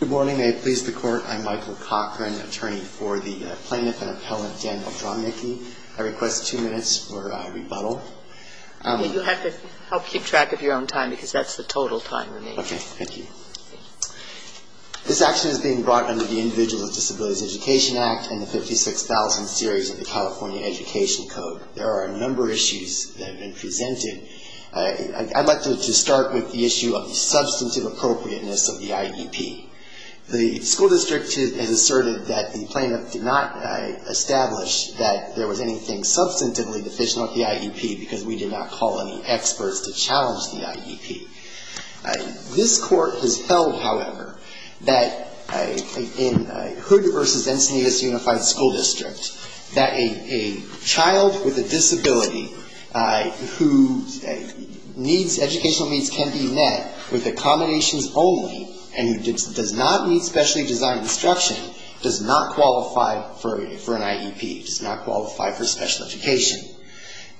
Good morning. I please the Court. I'm Michael Cochran, attorney for the plaintiff and appellant Dan Drobnicki. I request two minutes for rebuttal. You have to help keep track of your own time because that's the total time remaining. Okay. Thank you. This action is being brought under the Individuals with Disabilities Education Act and the 56,000 series of the California Education Code. There are a number of issues that have been presented. I'd like to start with the issue of the substantive appropriateness of the IEP. The school district has asserted that the plaintiff did not establish that there was anything substantively deficient with the IEP because we did not call any experts to challenge the IEP. This Court has held, however, that in Hood v. Encinitas Unified School District that a child with a disability who needs educational needs can be met with accommodations only and who does not need specially designed instruction does not qualify for an IEP, does not qualify for special education.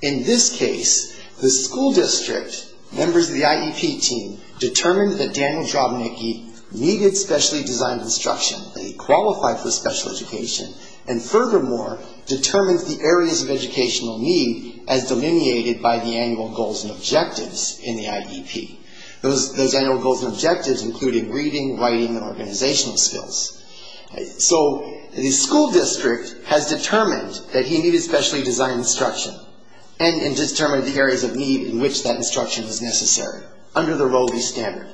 In this case, the school district, members of the IEP team, determined that Daniel Drobnicki needed specially designed instruction, that he qualified for special education, and furthermore, determines the areas of educational need as delineated by the annual goals and objectives in the IEP. Those annual goals and objectives included reading, writing, and organizational skills. So the school district has determined that he needed specially designed instruction and determined the areas of need in which that instruction was necessary under the Roe v. Standard.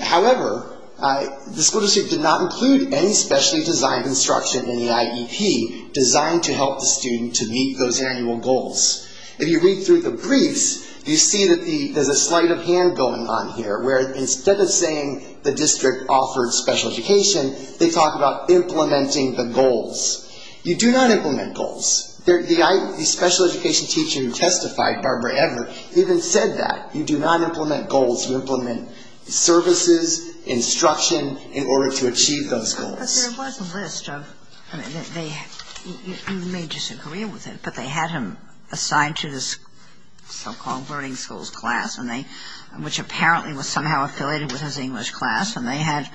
However, the school district did not include any specially designed instruction in the IEP designed to help the student to meet those annual goals. If you read through the briefs, you see that there's a sleight of hand going on here where instead of saying the district offered special education, they talk about implementing the goals. You do not implement goals. The special education teacher who testified, Barbara Ever, even said that. You do not implement goals. You implement services, instruction in order to achieve those goals. But there was a list of, you may disagree with it, but they had him assigned to this so-called learning schools class, which apparently was somehow affiliated with his English class. And they had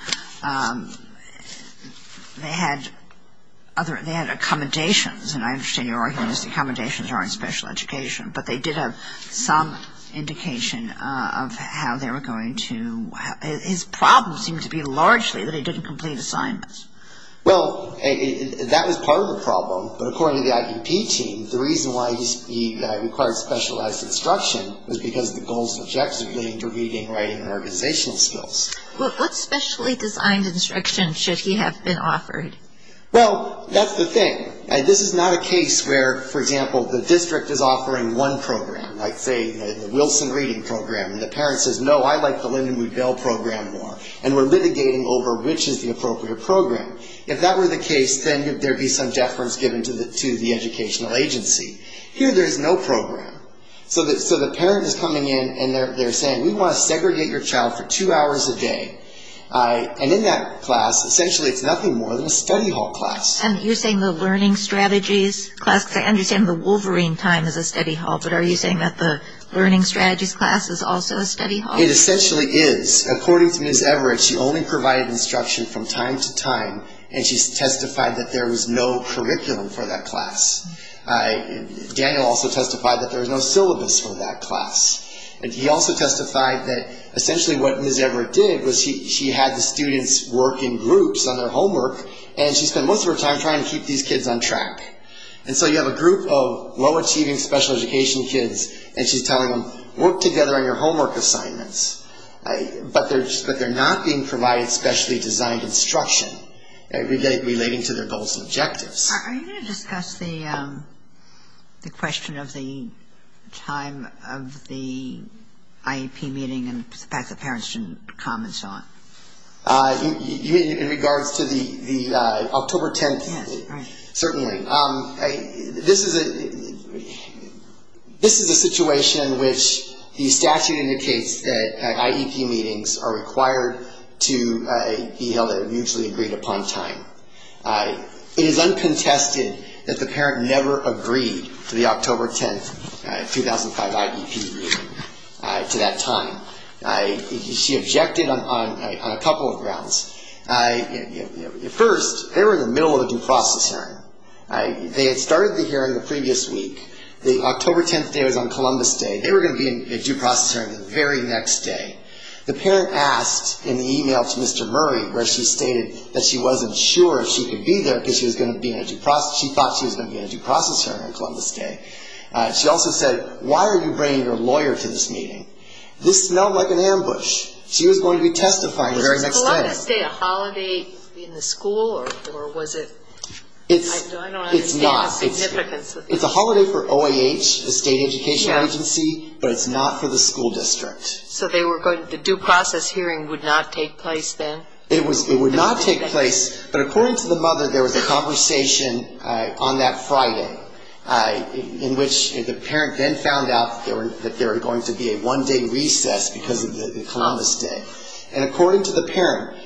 other, they had accommodations, and I understand your argument is accommodations are in special education. But they did have some indication of how they were going to, his problem seemed to be largely that he didn't complete assignments. Well, that was part of the problem. But according to the IEP team, the reason why he required specialized instruction was because the goals and objectives included reading, writing, and organizational skills. Well, what specially designed instruction should he have been offered? Well, that's the thing. This is not a case where, for example, the district is offering one program, like, say, the Wilson reading program, and the parent says, no, I like the Linda Mood-Bell program more, and we're litigating over which is the appropriate program. If that were the case, then there'd be some deference given to the educational agency. Here there's no program. So the parent is coming in, and they're saying, we want to segregate your child for two hours a day. And in that class, essentially it's nothing more than a study hall class. And you're saying the learning strategies class, because I understand the Wolverine time is a study hall, but are you saying that the learning strategies class is also a study hall? It essentially is. According to Ms. Everett, she only provided instruction from time to time, and she testified that there was no curriculum for that class. Daniel also testified that there was no syllabus for that class. And he also testified that essentially what Ms. Everett did was she had the students work in groups on their homework, and she spent most of her time trying to keep these kids on track. And so you have a group of low-achieving special education kids, and she's telling them, work together on your homework assignments. But they're not being provided specially designed instruction relating to their goals and objectives. Are you going to discuss the question of the time of the IEP meeting and the fact that parents didn't come and so on? In regards to the October 10th, certainly. This is a situation in which the statute indicates that IEP meetings are required to be held at a mutually agreed upon time. It is uncontested that the parent never agreed to the October 10th, 2005 IEP meeting to that time. She objected on a couple of grounds. First, they were in the middle of a due process hearing. They had started the hearing the previous week. The October 10th day was on Columbus Day. They were going to be in a due process hearing the very next day. The parent asked in the e-mail to Mr. Murray where she stated that she wasn't sure if she could be there because she thought she was going to be in a due process hearing on Columbus Day. She also said, why are you bringing your lawyer to this meeting? This smelled like an ambush. She was going to be testifying the very next day. Was this day a holiday in the school? It's a holiday for OAH, the state education agency, but it's not for the school district. So the due process hearing would not take place then? It would not take place, but according to the mother, there was a conversation on that Friday in which the parent then found out that there was going to be a one-day recess because of Columbus Day. According to the parent,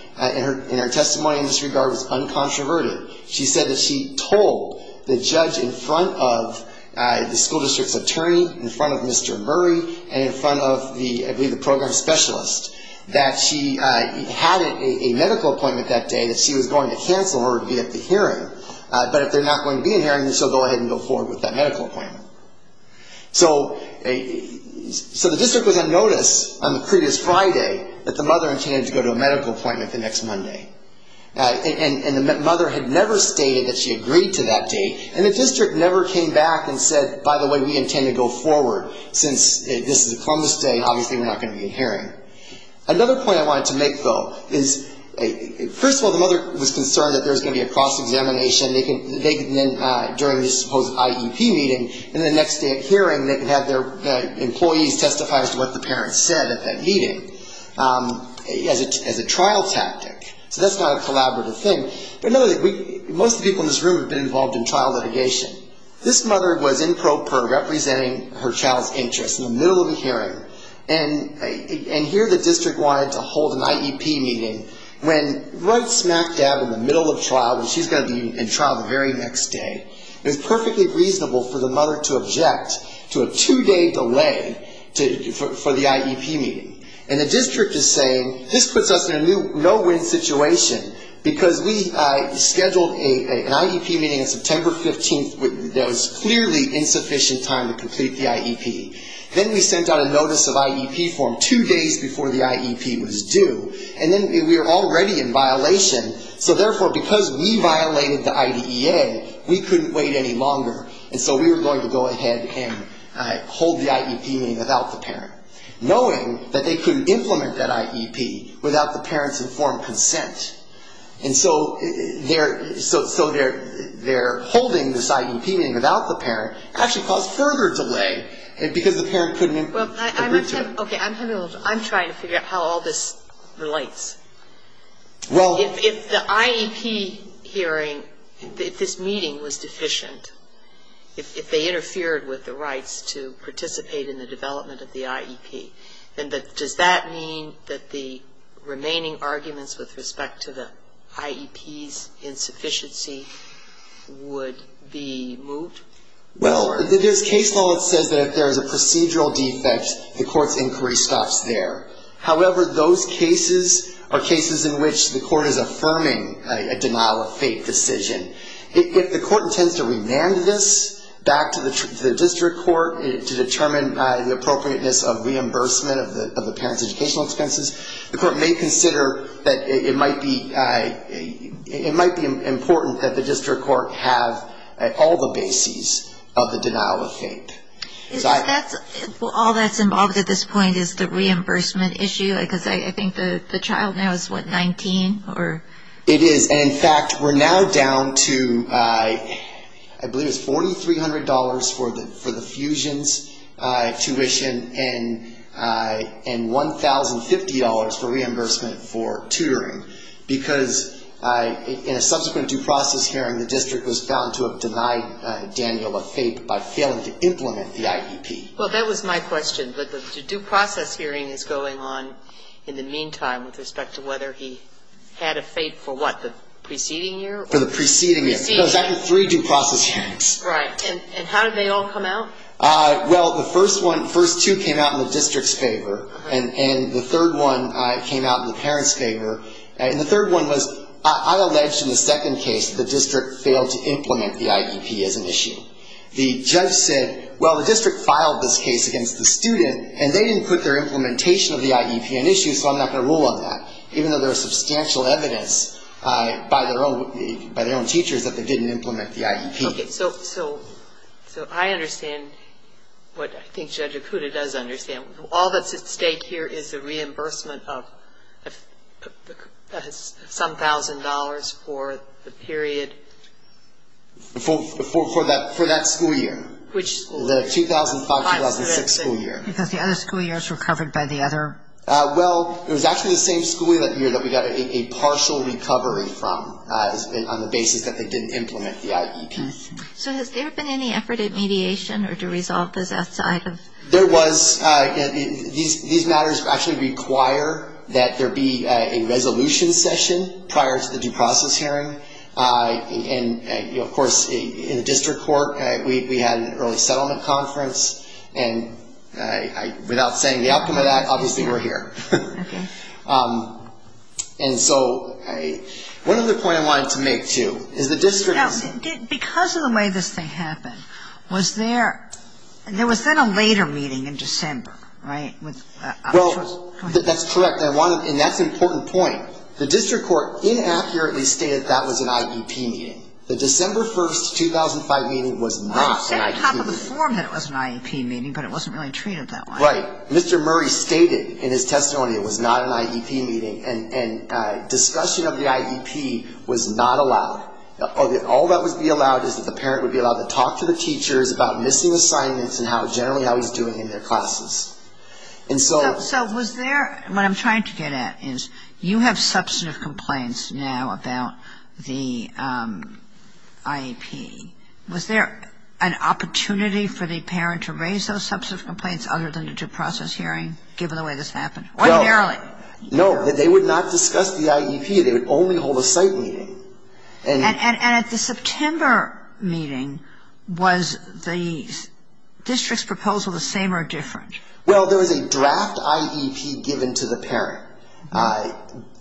in her testimony in this regard, it was uncontroverted. She said that she told the judge in front of the school district's attorney, in front of Mr. Murray, and in front of the program specialist, that she had a medical appointment that day that she was going to cancel in order to be at the hearing. But if they're not going to be in hearing, then she'll go ahead and go forward with that medical appointment. So the district was on notice on the previous Friday that the mother intended to go to a medical appointment the next Monday. And the mother had never stated that she agreed to that date, and the district never came back and said, by the way, we intend to go forward since this is a Columbus Day and obviously we're not going to be in hearing. Another point I wanted to make, though, is first of all, the mother was concerned that there was going to be a cross-examination. They can then, during this supposed IEP meeting, in the next hearing, they can have their employees testify as to what the parents said at that meeting, as a trial tactic. So that's not a collaborative thing. But another thing, most of the people in this room have been involved in trial litigation. This mother was in pro per representing her child's interests in the middle of a hearing, and here the district wanted to hold an IEP meeting, when right smack dab in the middle of trial, when she's going to be in trial the very next day, it was perfectly reasonable for the mother to object to a two-day delay for the IEP meeting. And the district is saying, this puts us in a no-win situation, because we scheduled an IEP meeting on September 15th. There was clearly insufficient time to complete the IEP. Then we sent out a notice of IEP form two days before the IEP was due. And then we were already in violation, so therefore, because we violated the IDEA, we couldn't wait any longer. And so we were going to go ahead and hold the IEP meeting without the parent, knowing that they couldn't implement that IEP without the parent's informed consent. And so their holding this IEP meeting without the parent actually caused further delay in the process. I'm trying to figure out how all this relates. If the IEP hearing, if this meeting was deficient, if they interfered with the rights to participate in the development of the IEP, then does that mean that the remaining arguments with respect to the IEP's insufficiency would be moved? Well, there's case law that says that if there's a procedural defect, the court's inquiry stops there. However, those cases are cases in which the court is affirming a denial-of-fate decision. If the court intends to remand this back to the district court to determine the appropriateness of reimbursement of the parent's educational expenses, the court may consider that it might be important that the district court have all the bases. All that's involved at this point is the reimbursement issue, because I think the child now is, what, 19? It is. And in fact, we're now down to, I believe it's $4,300 for the fusions tuition and $1,050 for reimbursement for tutoring. Because in a subsequent due process hearing, the district was found to have denied Daniel a fate by failing to implement the IEP. Well, that was my question. But the due process hearing is going on in the meantime with respect to whether he had a fate for, what, the preceding year? For the preceding year. Because I had three due process hearings. Right. And how did they all come out? Well, the first one, first two came out in the district's favor. And the third one came out in the parent's favor. And the third one was, I alleged in the second case the district failed to implement the IEP as an issue. The judge said, well, the district filed this case against the student, and they didn't put their implementation of the IEP in issue, so I'm not going to rule on that. Even though there is substantial evidence by their own teachers that they didn't implement the IEP. Okay. So I understand what I think Judge Okuda does understand. All that's at stake here is the reimbursement of some thousand dollars for the period? For that school year. Which school year? The 2005-2006 school year. Because the other school years were covered by the other? Well, it was actually the same school year that we got a partial recovery from on the basis that they didn't implement the IEP. So has there been any effort at mediation or to resolve this outside of? There was. These matters actually require that there be a resolution session prior to the due process hearing. And, of course, in the district court, we had an early settlement conference, and without saying the outcome of that, obviously we're here. Okay. And so one other point I wanted to make, too, is the district... Now, because of the way this thing happened, was there a later meeting in December, right? Well, that's correct, and that's an important point. The district court inaccurately stated that was an IEP meeting. The December 1, 2005 meeting was not an IEP meeting. Right. It said on top of the form that it was an IEP meeting, but it wasn't really treated that way. Right. Mr. Murray stated in his testimony it was not an IEP meeting, and discussion of the IEP was not allowed. All that would be allowed is that the parent would be allowed to talk to the teachers about missing assignments and generally how he's doing in their classes. So was there... What I'm trying to get at is you have substantive complaints now about the IEP. Was there an opportunity for the parent to raise those substantive complaints other than the due process hearing, given the way this happened? Ordinarily. No. They would not discuss the IEP. They would only hold a site meeting. And at the September meeting, was the district's proposal the same or different? Well, there was a draft IEP given to the parent,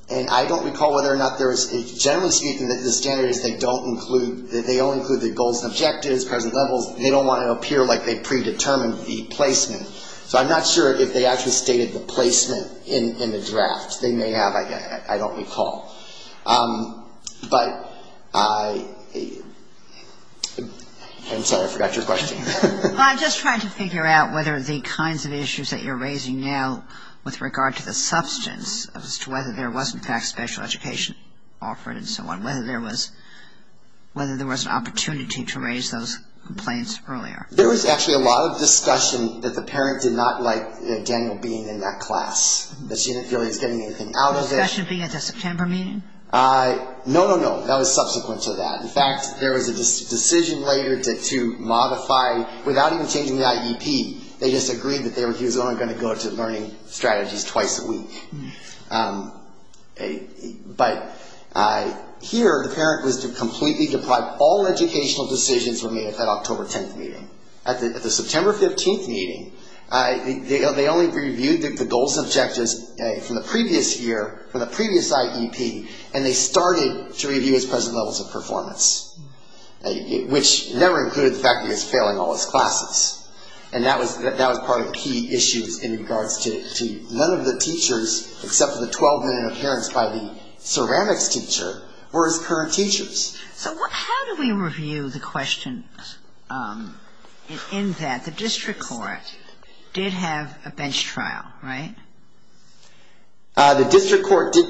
and I don't recall whether or not there was... Generally speaking, the standard is they don't include, they only include the goals and objectives, present levels. They don't want to appear like they predetermined the placement. So I'm not sure if they actually stated the placement in the draft. They may have, I don't recall. But I... I'm sorry, I forgot your question. Well, I'm just trying to figure out whether the kinds of issues that you're raising now with regard to the substance as to whether there was, in fact, special education offered and so on, whether there was an opportunity to raise those complaints earlier. There was actually a lot of discussion that the parent did not like Daniel being in that class, that she didn't feel he was getting anything out of it. Discussion being at the September meeting? No, no, no. That was subsequent to that. In fact, there was a decision later to modify, without even changing the IEP. They just agreed that he was only going to go to learning strategies twice a week. But here, the parent was to completely deprive all educational decisions from being at that October 10th meeting. At the September 15th meeting, they only reviewed the goals and objectives from the previous year, and they didn't change them. They reviewed them from the previous IEP, and they started to review his present levels of performance, which never included the fact that he was failing all his classes. And that was part of the key issues in regards to none of the teachers, except for the 12-minute appearance by the ceramics teacher, were his current teachers. So how do we review the questions in that the district court did have a bench trial, right? The district court did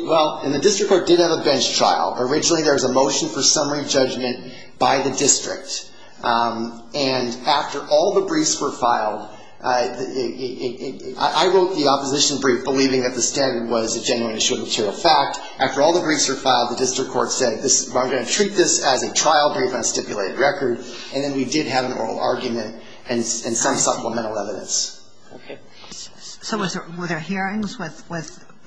have a bench trial. Originally, there was a motion for summary judgment by the district. And after all the briefs were filed, I wrote the opposition brief, believing that the standard was a genuine and assured material fact. After all the briefs were filed, the district court said, I'm going to treat this as a trial brief on a stipulated record. And then we did have an oral argument and some supplemental evidence. So were there hearings with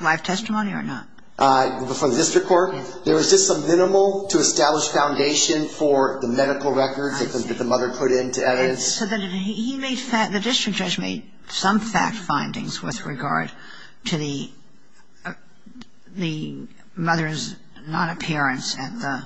live testimony or not? For the district court, there was just a minimal to establish foundation for the medical records that the mother put into evidence. So the district judge made some fact findings with regard to the mother's non-appearance on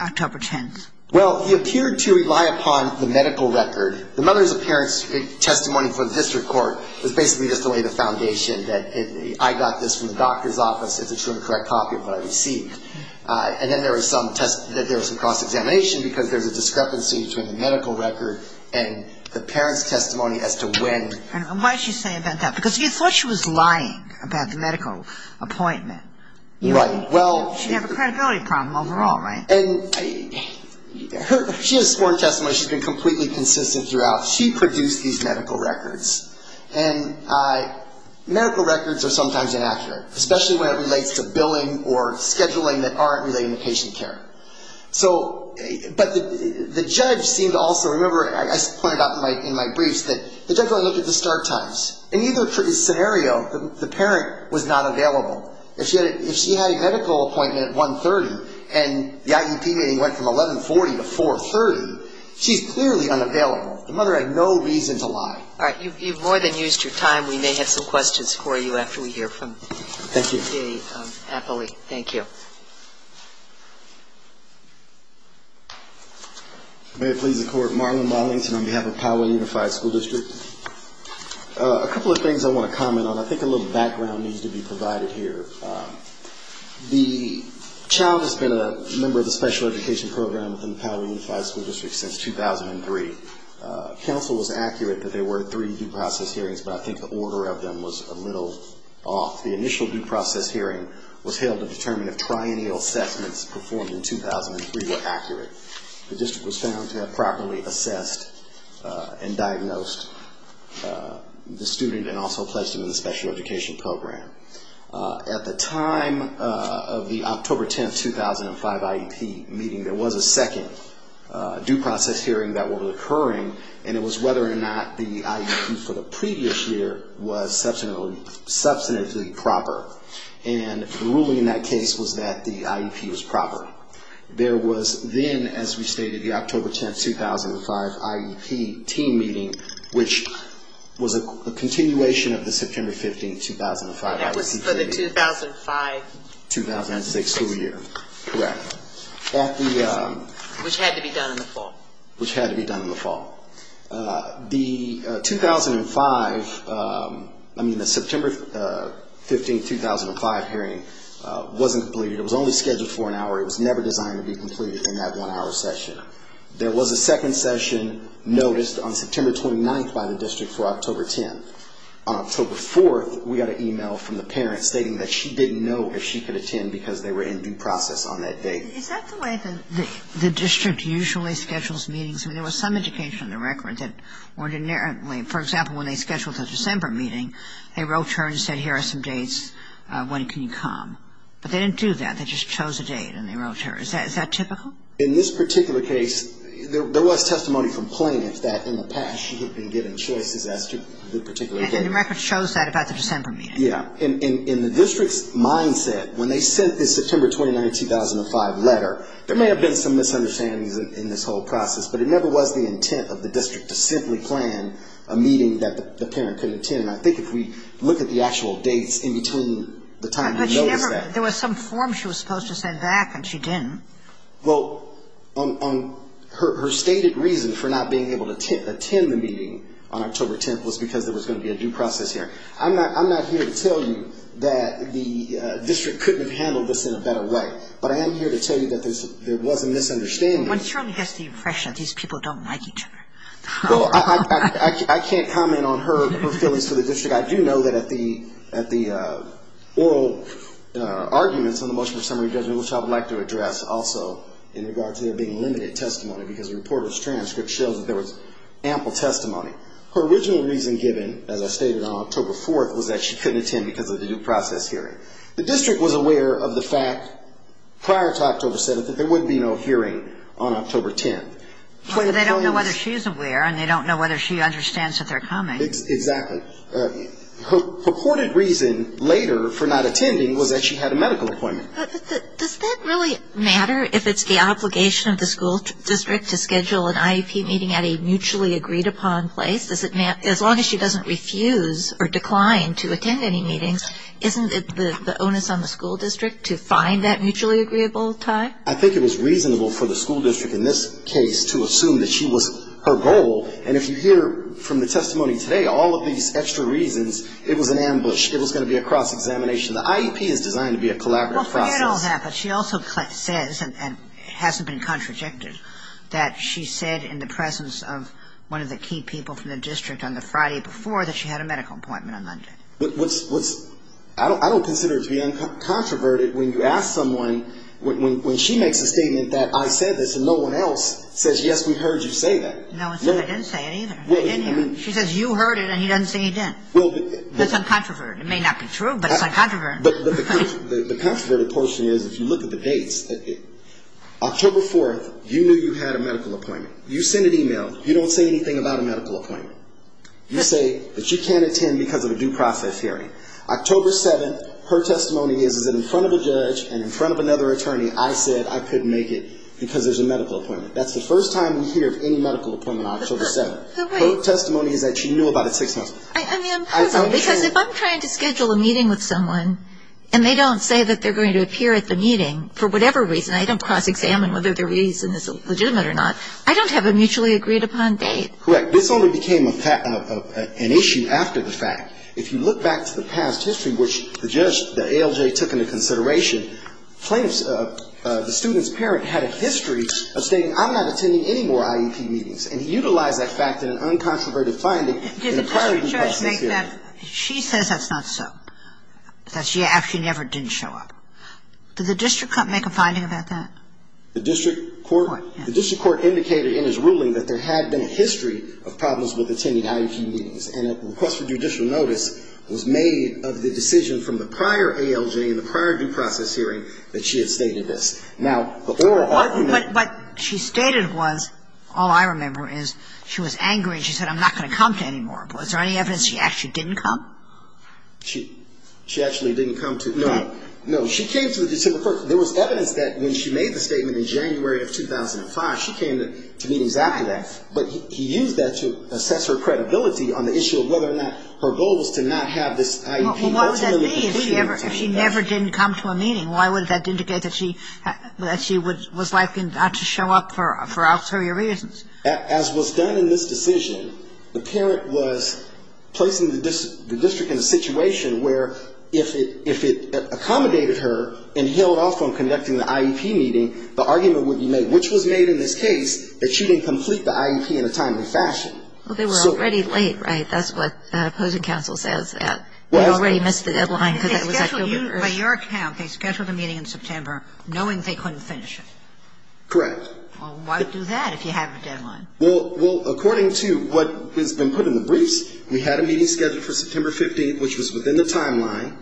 October 10th. Well, he appeared to rely upon the medical record. The mother's appearance testimony for the district court was basically just to lay the foundation that I got this from the doctor's office. It's a true and correct copy of what I received. And then there was some cross-examination, because there's a discrepancy between the medical record and the parent's testimony as to when. And why did she say that? Because you thought she was lying about the medical appointment. Right. She had a credibility problem overall, right? She has sworn testimony, she's been completely consistent throughout. She produced these medical records. And medical records are sometimes inaccurate, especially when it relates to billing or scheduling that aren't related to patient care. So but the judge seemed to also remember, as I pointed out in my briefs, that the judge only looked at the start times. In either scenario, the parent was not available. If she had a medical appointment at 1.30 and the IEP meeting went from 11.40 to 4.30, she's clearly unavailable. All right. You've more than used your time. We may have some questions for you after we hear from the appellee. Thank you. A couple of things I want to comment on. I think a little background needs to be provided here. The child has been a member of the special education program within the Powell Unified School District since 2003. Counsel was accurate that there were three due process hearings, but I think the order of them was a little off. The initial due process hearing was held to determine if triennial assessments performed in 2003 were accurate. The district was found to have properly assessed and diagnosed the student and also pledged him in the special education program. At the time of the October 10, 2005 IEP meeting, there was a second due process hearing that was occurring. It was whether or not the IEP for the previous year was substantively proper. The ruling in that case was that the IEP was proper. There was then, as we stated, the October 10, 2005 IEP team meeting, which was a continuation of the September 15 meeting. That was for the 2005 school year. Correct. Which had to be done in the fall. The September 15, 2005 hearing wasn't completed. It was only scheduled for an hour. It was never designed to be completed in that one-hour session. There was a second session noticed on September 29 by the district for October 10. On October 4, we got an e-mail from the parent stating that she didn't know if she could attend because they were in due process on that date. Is that the way the district usually schedules meetings? I mean, there was some education on the record that ordinarily, for example, when they scheduled a December meeting, they wrote to her and said, here are some dates, when can you come? But they didn't do that. They just chose a date and they wrote to her. Is that typical? In this particular case, there was testimony from plaintiffs that in the past she had been given choices as to the particular date. And the record shows that about the December meeting. In the district's mindset, when they sent this September 29, 2005 letter, there may have been some misunderstandings in this whole process, but it never was the intent of the district to simply plan a meeting that the parent could attend. And I think if we look at the actual dates in between the time we noticed that. But there was some form she was supposed to send back and she didn't. Well, her stated reason for not being able to attend the meeting on October 10th was because there was going to be a due process here. I'm not here to tell you that the district couldn't have handled this in a better way. But I am here to tell you that there was a misunderstanding. One surely gets the impression these people don't like each other. Well, I can't comment on her feelings for the district. I do know that at the oral arguments on the motion for summary judgment, which I would like to address also in regards to there being limited testimony, because the reporter's transcript shows that there was ample testimony. Her original reason given, as I stated on October 4th, was that she couldn't attend because of the due process hearing. The district was aware of the fact prior to October 7th that there would be no hearing on October 10th. They don't know whether she's aware and they don't know whether she understands that they're coming. Exactly. Her purported reason later for not attending was that she had a medical appointment. Does that really matter if it's the obligation of the school district to schedule an IEP meeting at a mutually agreed upon place? As long as she doesn't refuse or decline to attend any meetings, isn't it the onus on the school district to find that mutually agreeable time? I think it was reasonable for the school district in this case to assume that she was her goal. And if you hear from the testimony today, all of these extra reasons, it was an ambush. It was going to be a cross-examination. The IEP is designed to be a collaborative process. Well, forget all that, but she also says and hasn't been contradicted that she said in the presence of one of the key people from the district on the Friday before that she had a medical appointment on Monday. I don't consider it to be uncontroverted when you ask someone, when she makes a statement that I said this and no one else says, yes, we heard you say that. No one said I didn't say it either. She says you heard it and he doesn't say he didn't. That's uncontroverted. It may not be true, but it's uncontroverted. But the controverted portion is if you look at the dates, October 4th, you knew you had a medical appointment. You send an e-mail. You don't say anything about a medical appointment. You say that you can't attend because of a due process hearing. October 7th, her testimony is that in front of a judge and in front of another attorney, I said I couldn't make it because there's a medical appointment. That's the first time we hear of any medical appointment on October 7th. Her testimony is that she knew about it six months before. I mean, because if I'm trying to schedule a meeting with someone and they don't say that they're going to appear at the meeting for whatever reason, I don't cross-examine whether the reason is legitimate or not, I don't have a mutually agreed upon date. Correct. This only became an issue after the fact. If you look back to the past history, which the judge, the ALJ, took into consideration, plaintiffs, the student's parent had a history of saying I'm not attending any more IEP meetings. And he utilized that fact in an uncontroverted finding in a prior due process hearing. Did the district judge make that, she says that's not so, that she actually never did show up. Did the district court make a finding about that? The district court indicated in his ruling that there had been a history of problems with attending IEP meetings. And a request for judicial notice was made of the decision from the prior ALJ in the prior due process hearing that she had stated this. Now, but there were other men. But what she stated was, all I remember is she was angry and she said I'm not going to come to any more. Was there any evidence she actually didn't come? She actually didn't come to. No. No. She came to the district court. There was evidence that when she made the statement in January of 2005, she came to meet exactly that. But he used that to assess her credibility on the issue of whether or not her goal was to not have this IEP. Well, what would that mean if she never didn't come to a meeting? Why would that indicate that she was likely not to show up for ulterior reasons? As was done in this decision, the parent was placing the district in a situation where if it accommodated her and held off on conducting the IEP meeting, the argument would be made, which was made in this case, that she didn't complete the IEP in a timely fashion. Well, they were already late, right? That's what opposing counsel says, that they already missed the deadline because that was October 1st. By your account, they scheduled a meeting in September knowing they couldn't finish it. Correct. Well, why do that if you have a deadline? Well, according to what has been put in the briefs, we had a meeting scheduled for September 15th, which was within the timeline.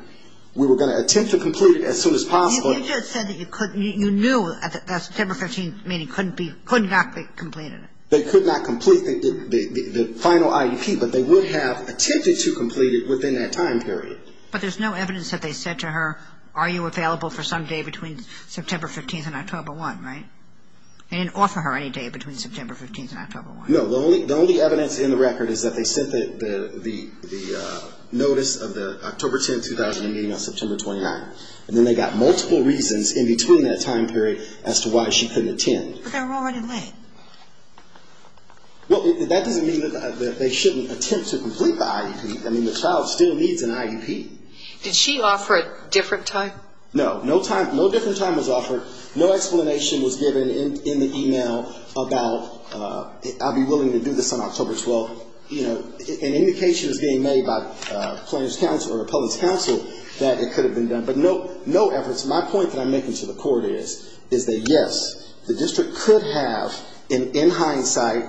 We were going to attempt to complete it as soon as possible. You just said that you knew that September 15th meeting could not be completed. They could not complete the final IEP, but they would have attempted to complete it within that time period. But there's no evidence that they said to her, are you available for some day between September 15th and October 1st, right? They didn't offer her any day between September 15th and October 1st. No. The only evidence in the record is that they sent the notice of the October 10th, 2018, on September 29th. And then they got multiple reasons in between that time period as to why she couldn't attend. But they were already late. Well, that doesn't mean that they shouldn't attempt to complete the IEP. I mean, the child still needs an IEP. Did she offer a different time? No. No different time was offered. No explanation was given in the email about I'll be willing to do this on October 12th. An indication is being made by a plaintiff's counsel or a public's counsel that it could have been done. But no evidence. My point that I'm making to the court is that, yes, the district could have, in hindsight,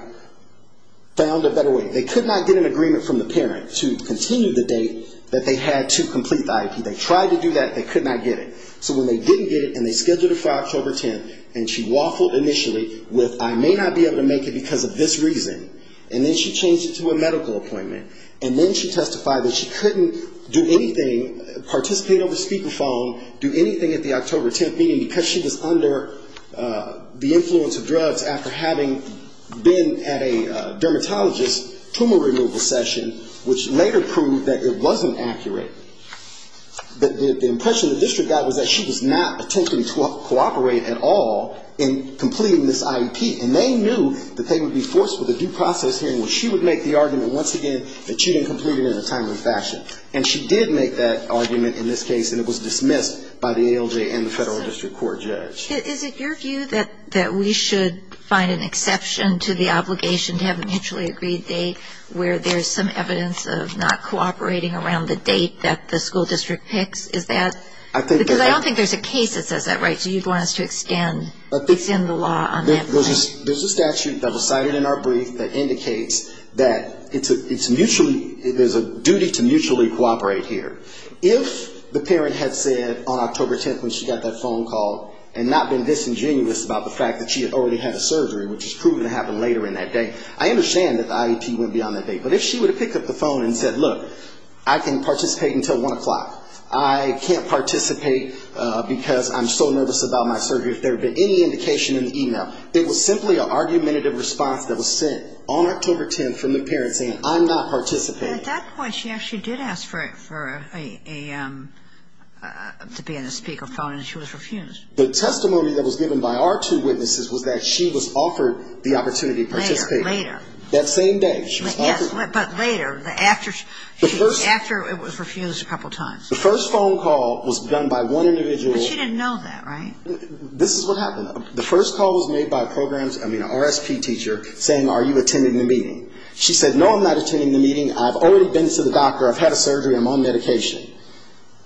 found a better way. They could not get an agreement from the parent to continue the date that they had to complete the IEP. They tried to do that. They could not get it. So when they didn't get it and they scheduled it for October 10th, and she waffled initially with I may not be able to make it because of this reason. And then she changed it to a medical appointment. And then she testified that she couldn't do anything, participate on the speakerphone, do anything at the October 10th meeting, because she was under the influence of drugs after having been at a dermatologist tumor removal session, which later proved that it wasn't accurate. But the impression the district got was that she was not attempting to cooperate at all in completing this IEP. And they knew that they would be forced with a due process hearing where she would make the argument once again that she didn't complete it in a timely fashion. And she did make that argument in this case, and it was dismissed by the ALJ and the federal district court judge. Is it your view that we should find an exception to the obligation to have a mutually agreed date where there's some evidence of not cooperating around the date that the school district picks? Is that? Because I don't think there's a case that says that, right? So you'd want us to extend the law on that? There's a statute that was cited in our brief that indicates that there's a duty to mutually cooperate here. If the parent had said on October 10th when she got that phone call and not been disingenuous about the fact that she had already had a surgery, which is proven to happen later in that day, I understand that the IEP wouldn't be on that date. But if she would have picked up the phone and said, look, I can participate until 1 o'clock. I can't participate because I'm so nervous about my surgery. If there had been any indication in the e-mail, it was simply an argumentative response that was sent on October 10th from the parent saying, I'm not participating. At that point, she actually did ask for a to be on the speaker phone, and she was refused. The testimony that was given by our two witnesses was that she was offered the opportunity to participate. Later, later. That same day. Yes, but later. After it was refused a couple times. The first phone call was done by one individual. But she didn't know that, right? This is what happened. The first call was made by a program, I mean, an RSP teacher saying, are you attending the meeting? She said, no, I'm not attending the meeting. I've already been to the doctor. I've had a surgery. I'm on medication.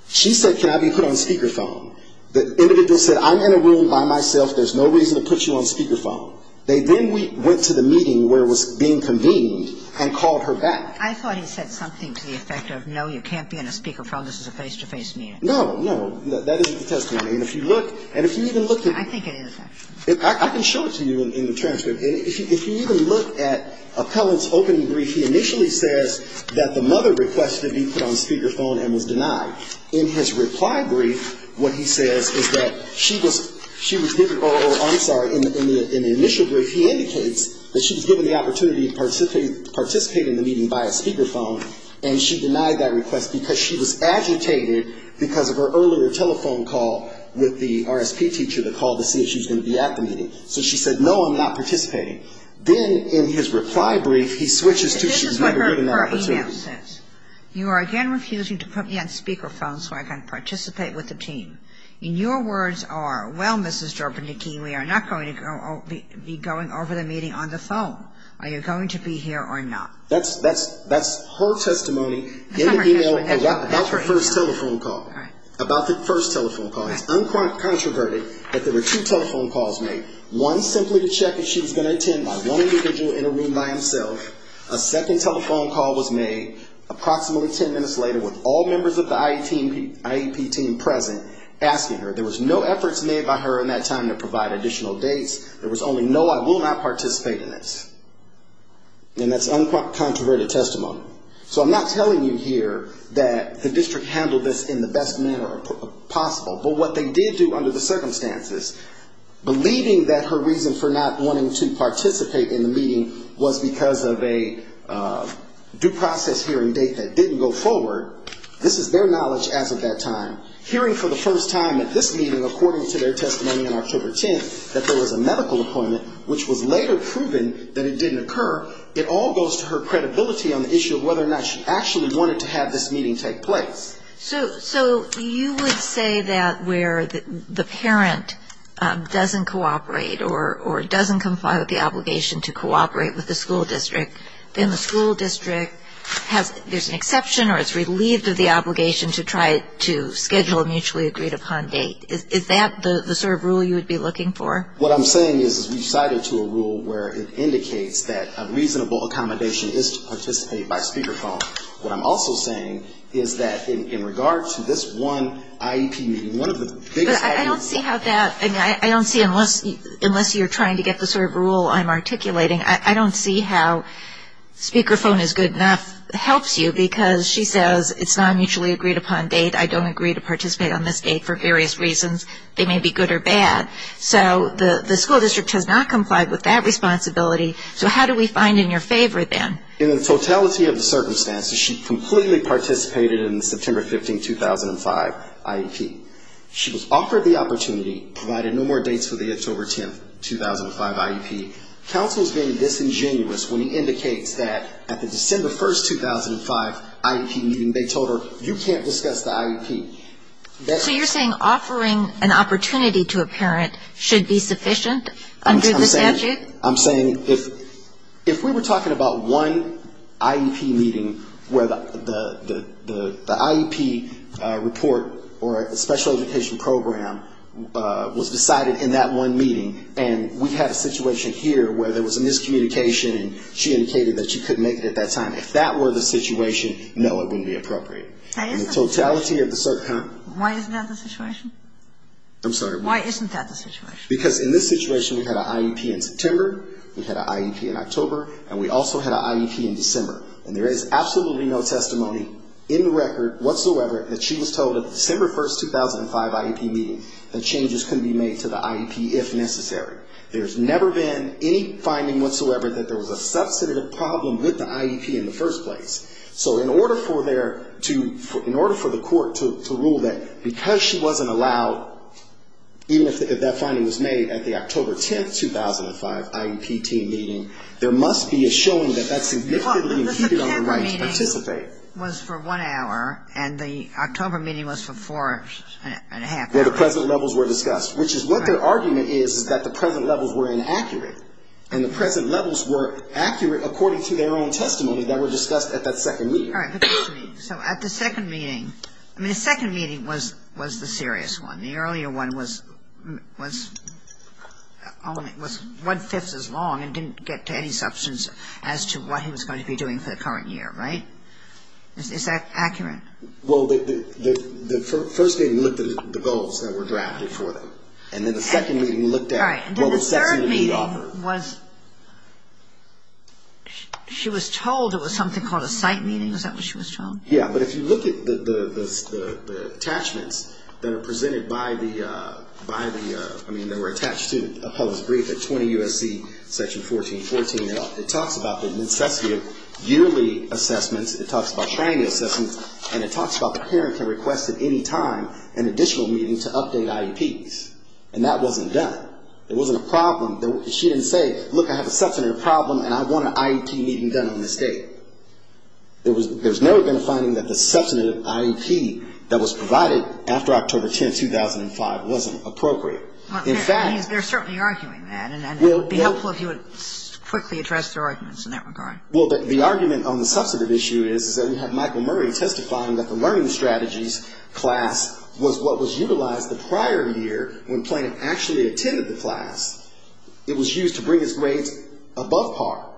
She said, can I be put on speaker phone? The individual said, I'm in a room by myself. There's no reason to put you on speaker phone. They then went to the meeting where it was being convened and called her back. I thought he said something to the effect of, no, you can't be on a speaker phone. This is a face-to-face meeting. No, no. That isn't the testimony. And if you look, and if you even look at. I think it is, actually. I can show it to you in the transcript. If you even look at Appellant's opening brief, he initially says that the mother requested to be put on speaker phone and was denied. In his reply brief, what he says is that she was given or I'm sorry, in the initial brief, he indicates that she was given the opportunity to participate in the meeting by a speaker phone, and she denied that request because she was agitated because of her earlier telephone call with the RSP teacher to call to see if she was going to be at the meeting. So she said, no, I'm not participating. Then in his reply brief, he switches to she's never had an opportunity. You are again refusing to put me on speaker phone so I can participate with the team. And your words are, well, Mrs. Durbin-Nikki, we are not going to be going over the meeting on the phone. Are you going to be here or not? That's her testimony in the e-mail about the first telephone call. About the first telephone call. It's uncontroverted that there were two telephone calls made. One simply to check if she was going to attend by one individual in a room by himself. A second telephone call was made approximately ten minutes later with all members of the IEP team present, asking her. There was no efforts made by her in that time to provide additional dates. There was only, no, I will not participate in this. And that's uncontroverted testimony. So I'm not telling you here that the district handled this in the best manner possible. But what they did do under the circumstances, believing that her reason for not wanting to participate in the meeting was because of a due process hearing date that didn't go forward. This is their knowledge as of that time. Hearing for the first time at this meeting, according to their testimony on October 10th, that there was a medical appointment, which was later proven that it didn't occur, it all goes to her credibility on the issue of whether or not she actually wanted to have this meeting take place. So you would say that where the parent doesn't cooperate or doesn't comply with the obligation to cooperate with the school district, then the school district has, there's an exception or is relieved of the obligation to try to schedule a mutually agreed upon date. Is that the sort of rule you would be looking for? What I'm saying is we've cited to a rule where it indicates that a reasonable accommodation is to participate by speakerphone. What I'm also saying is that in regard to this one IEP meeting, one of the biggest... But I don't see how that, I mean, I don't see unless you're trying to get the sort of rule I'm articulating, I don't see how speakerphone is good enough helps you because she says it's not a mutually agreed upon date, I don't agree to participate on this date for various reasons. They may be good or bad. So the school district has not complied with that responsibility. So how do we find in your favor then? In the totality of the circumstances, she completely participated in the September 15, 2005, IEP. She was offered the opportunity, provided no more dates for the October 10, 2005, IEP. Counsel is being disingenuous when he indicates that at the December 1, 2005, IEP meeting, they told her you can't discuss the IEP. So you're saying offering an opportunity to a parent should be sufficient under the statute? I'm saying if we were talking about one IEP meeting where the IEP report or special education program was decided in that one meeting and we had a situation here where there was a miscommunication and she indicated that she couldn't make it at that time, if that were the situation, no, it wouldn't be appropriate. In the totality of the... Why isn't that the situation? I'm sorry? Why isn't that the situation? Because in this situation, we had an IEP in September, we had an IEP in October, and we also had an IEP in December. And there is absolutely no testimony in the record whatsoever that she was told at the December 1, 2005, IEP meeting that changes could be made to the IEP if necessary. There's never been any finding whatsoever that there was a substantive problem with the IEP in the first place. So in order for there to... at the October 10, 2005, IEP team meeting, there must be a showing that that's significantly impeded on the right to participate. Well, the September meeting was for one hour, and the October meeting was for four and a half hours. Where the present levels were discussed, which is what their argument is, is that the present levels were inaccurate. And the present levels were accurate according to their own testimony that were discussed at that second meeting. All right. So at the second meeting, I mean, the second meeting was the serious one. And the earlier one was only... was one-fifth as long and didn't get to any substance as to what he was going to be doing for the current year, right? Is that accurate? Well, the first meeting looked at the goals that were drafted for them. And then the second meeting looked at... Right. And then the third meeting was... She was told it was something called a site meeting. Is that what she was told? Yeah. But if you look at the attachments that are presented by the... I mean, they were attached to a published brief at 20 U.S.C. section 1414. It talks about the necessity of yearly assessments. It talks about training assessments. And it talks about the parent can request at any time an additional meeting to update IEPs. And that wasn't done. It wasn't a problem. She didn't say, look, I have a substantive problem, and I want an IEP meeting done on this date. There's never been a finding that the substantive IEP that was provided after October 10, 2005, wasn't appropriate. In fact... They're certainly arguing that. And it would be helpful if you would quickly address their arguments in that regard. Well, the argument on the substantive issue is that we have Michael Murray testifying that the learning strategies class was what was utilized the prior year when Plaintiff actually attended the class. It was used to bring his grades above par.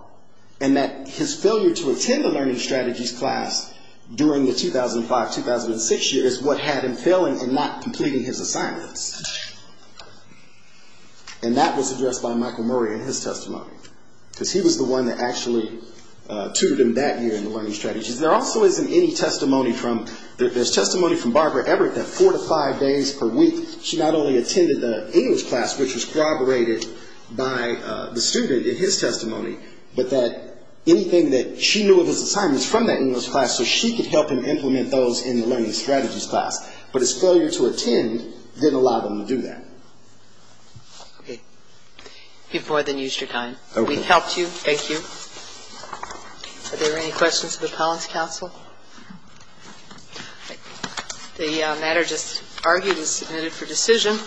And that his failure to attend the learning strategies class during the 2005-2006 year is what had him failing and not completing his assignments. And that was addressed by Michael Murray in his testimony. Because he was the one that actually tutored him that year in the learning strategies. There also isn't any testimony from... There's testimony from Barbara Ebert that four to five days per week, she not only attended the English class, which was corroborated by the student in his testimony, but that anything that she knew of his assignments from that English class, so she could help him implement those in the learning strategies class. But his failure to attend didn't allow them to do that. Okay. You've more than used your time. Okay. We've helped you. Thank you. Are there any questions of the Collins Council? The matter just argued is submitted for decision.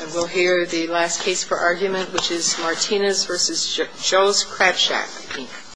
And we'll hear the last case for argument, which is Martinez v. Joe's Crab Shack, Inc.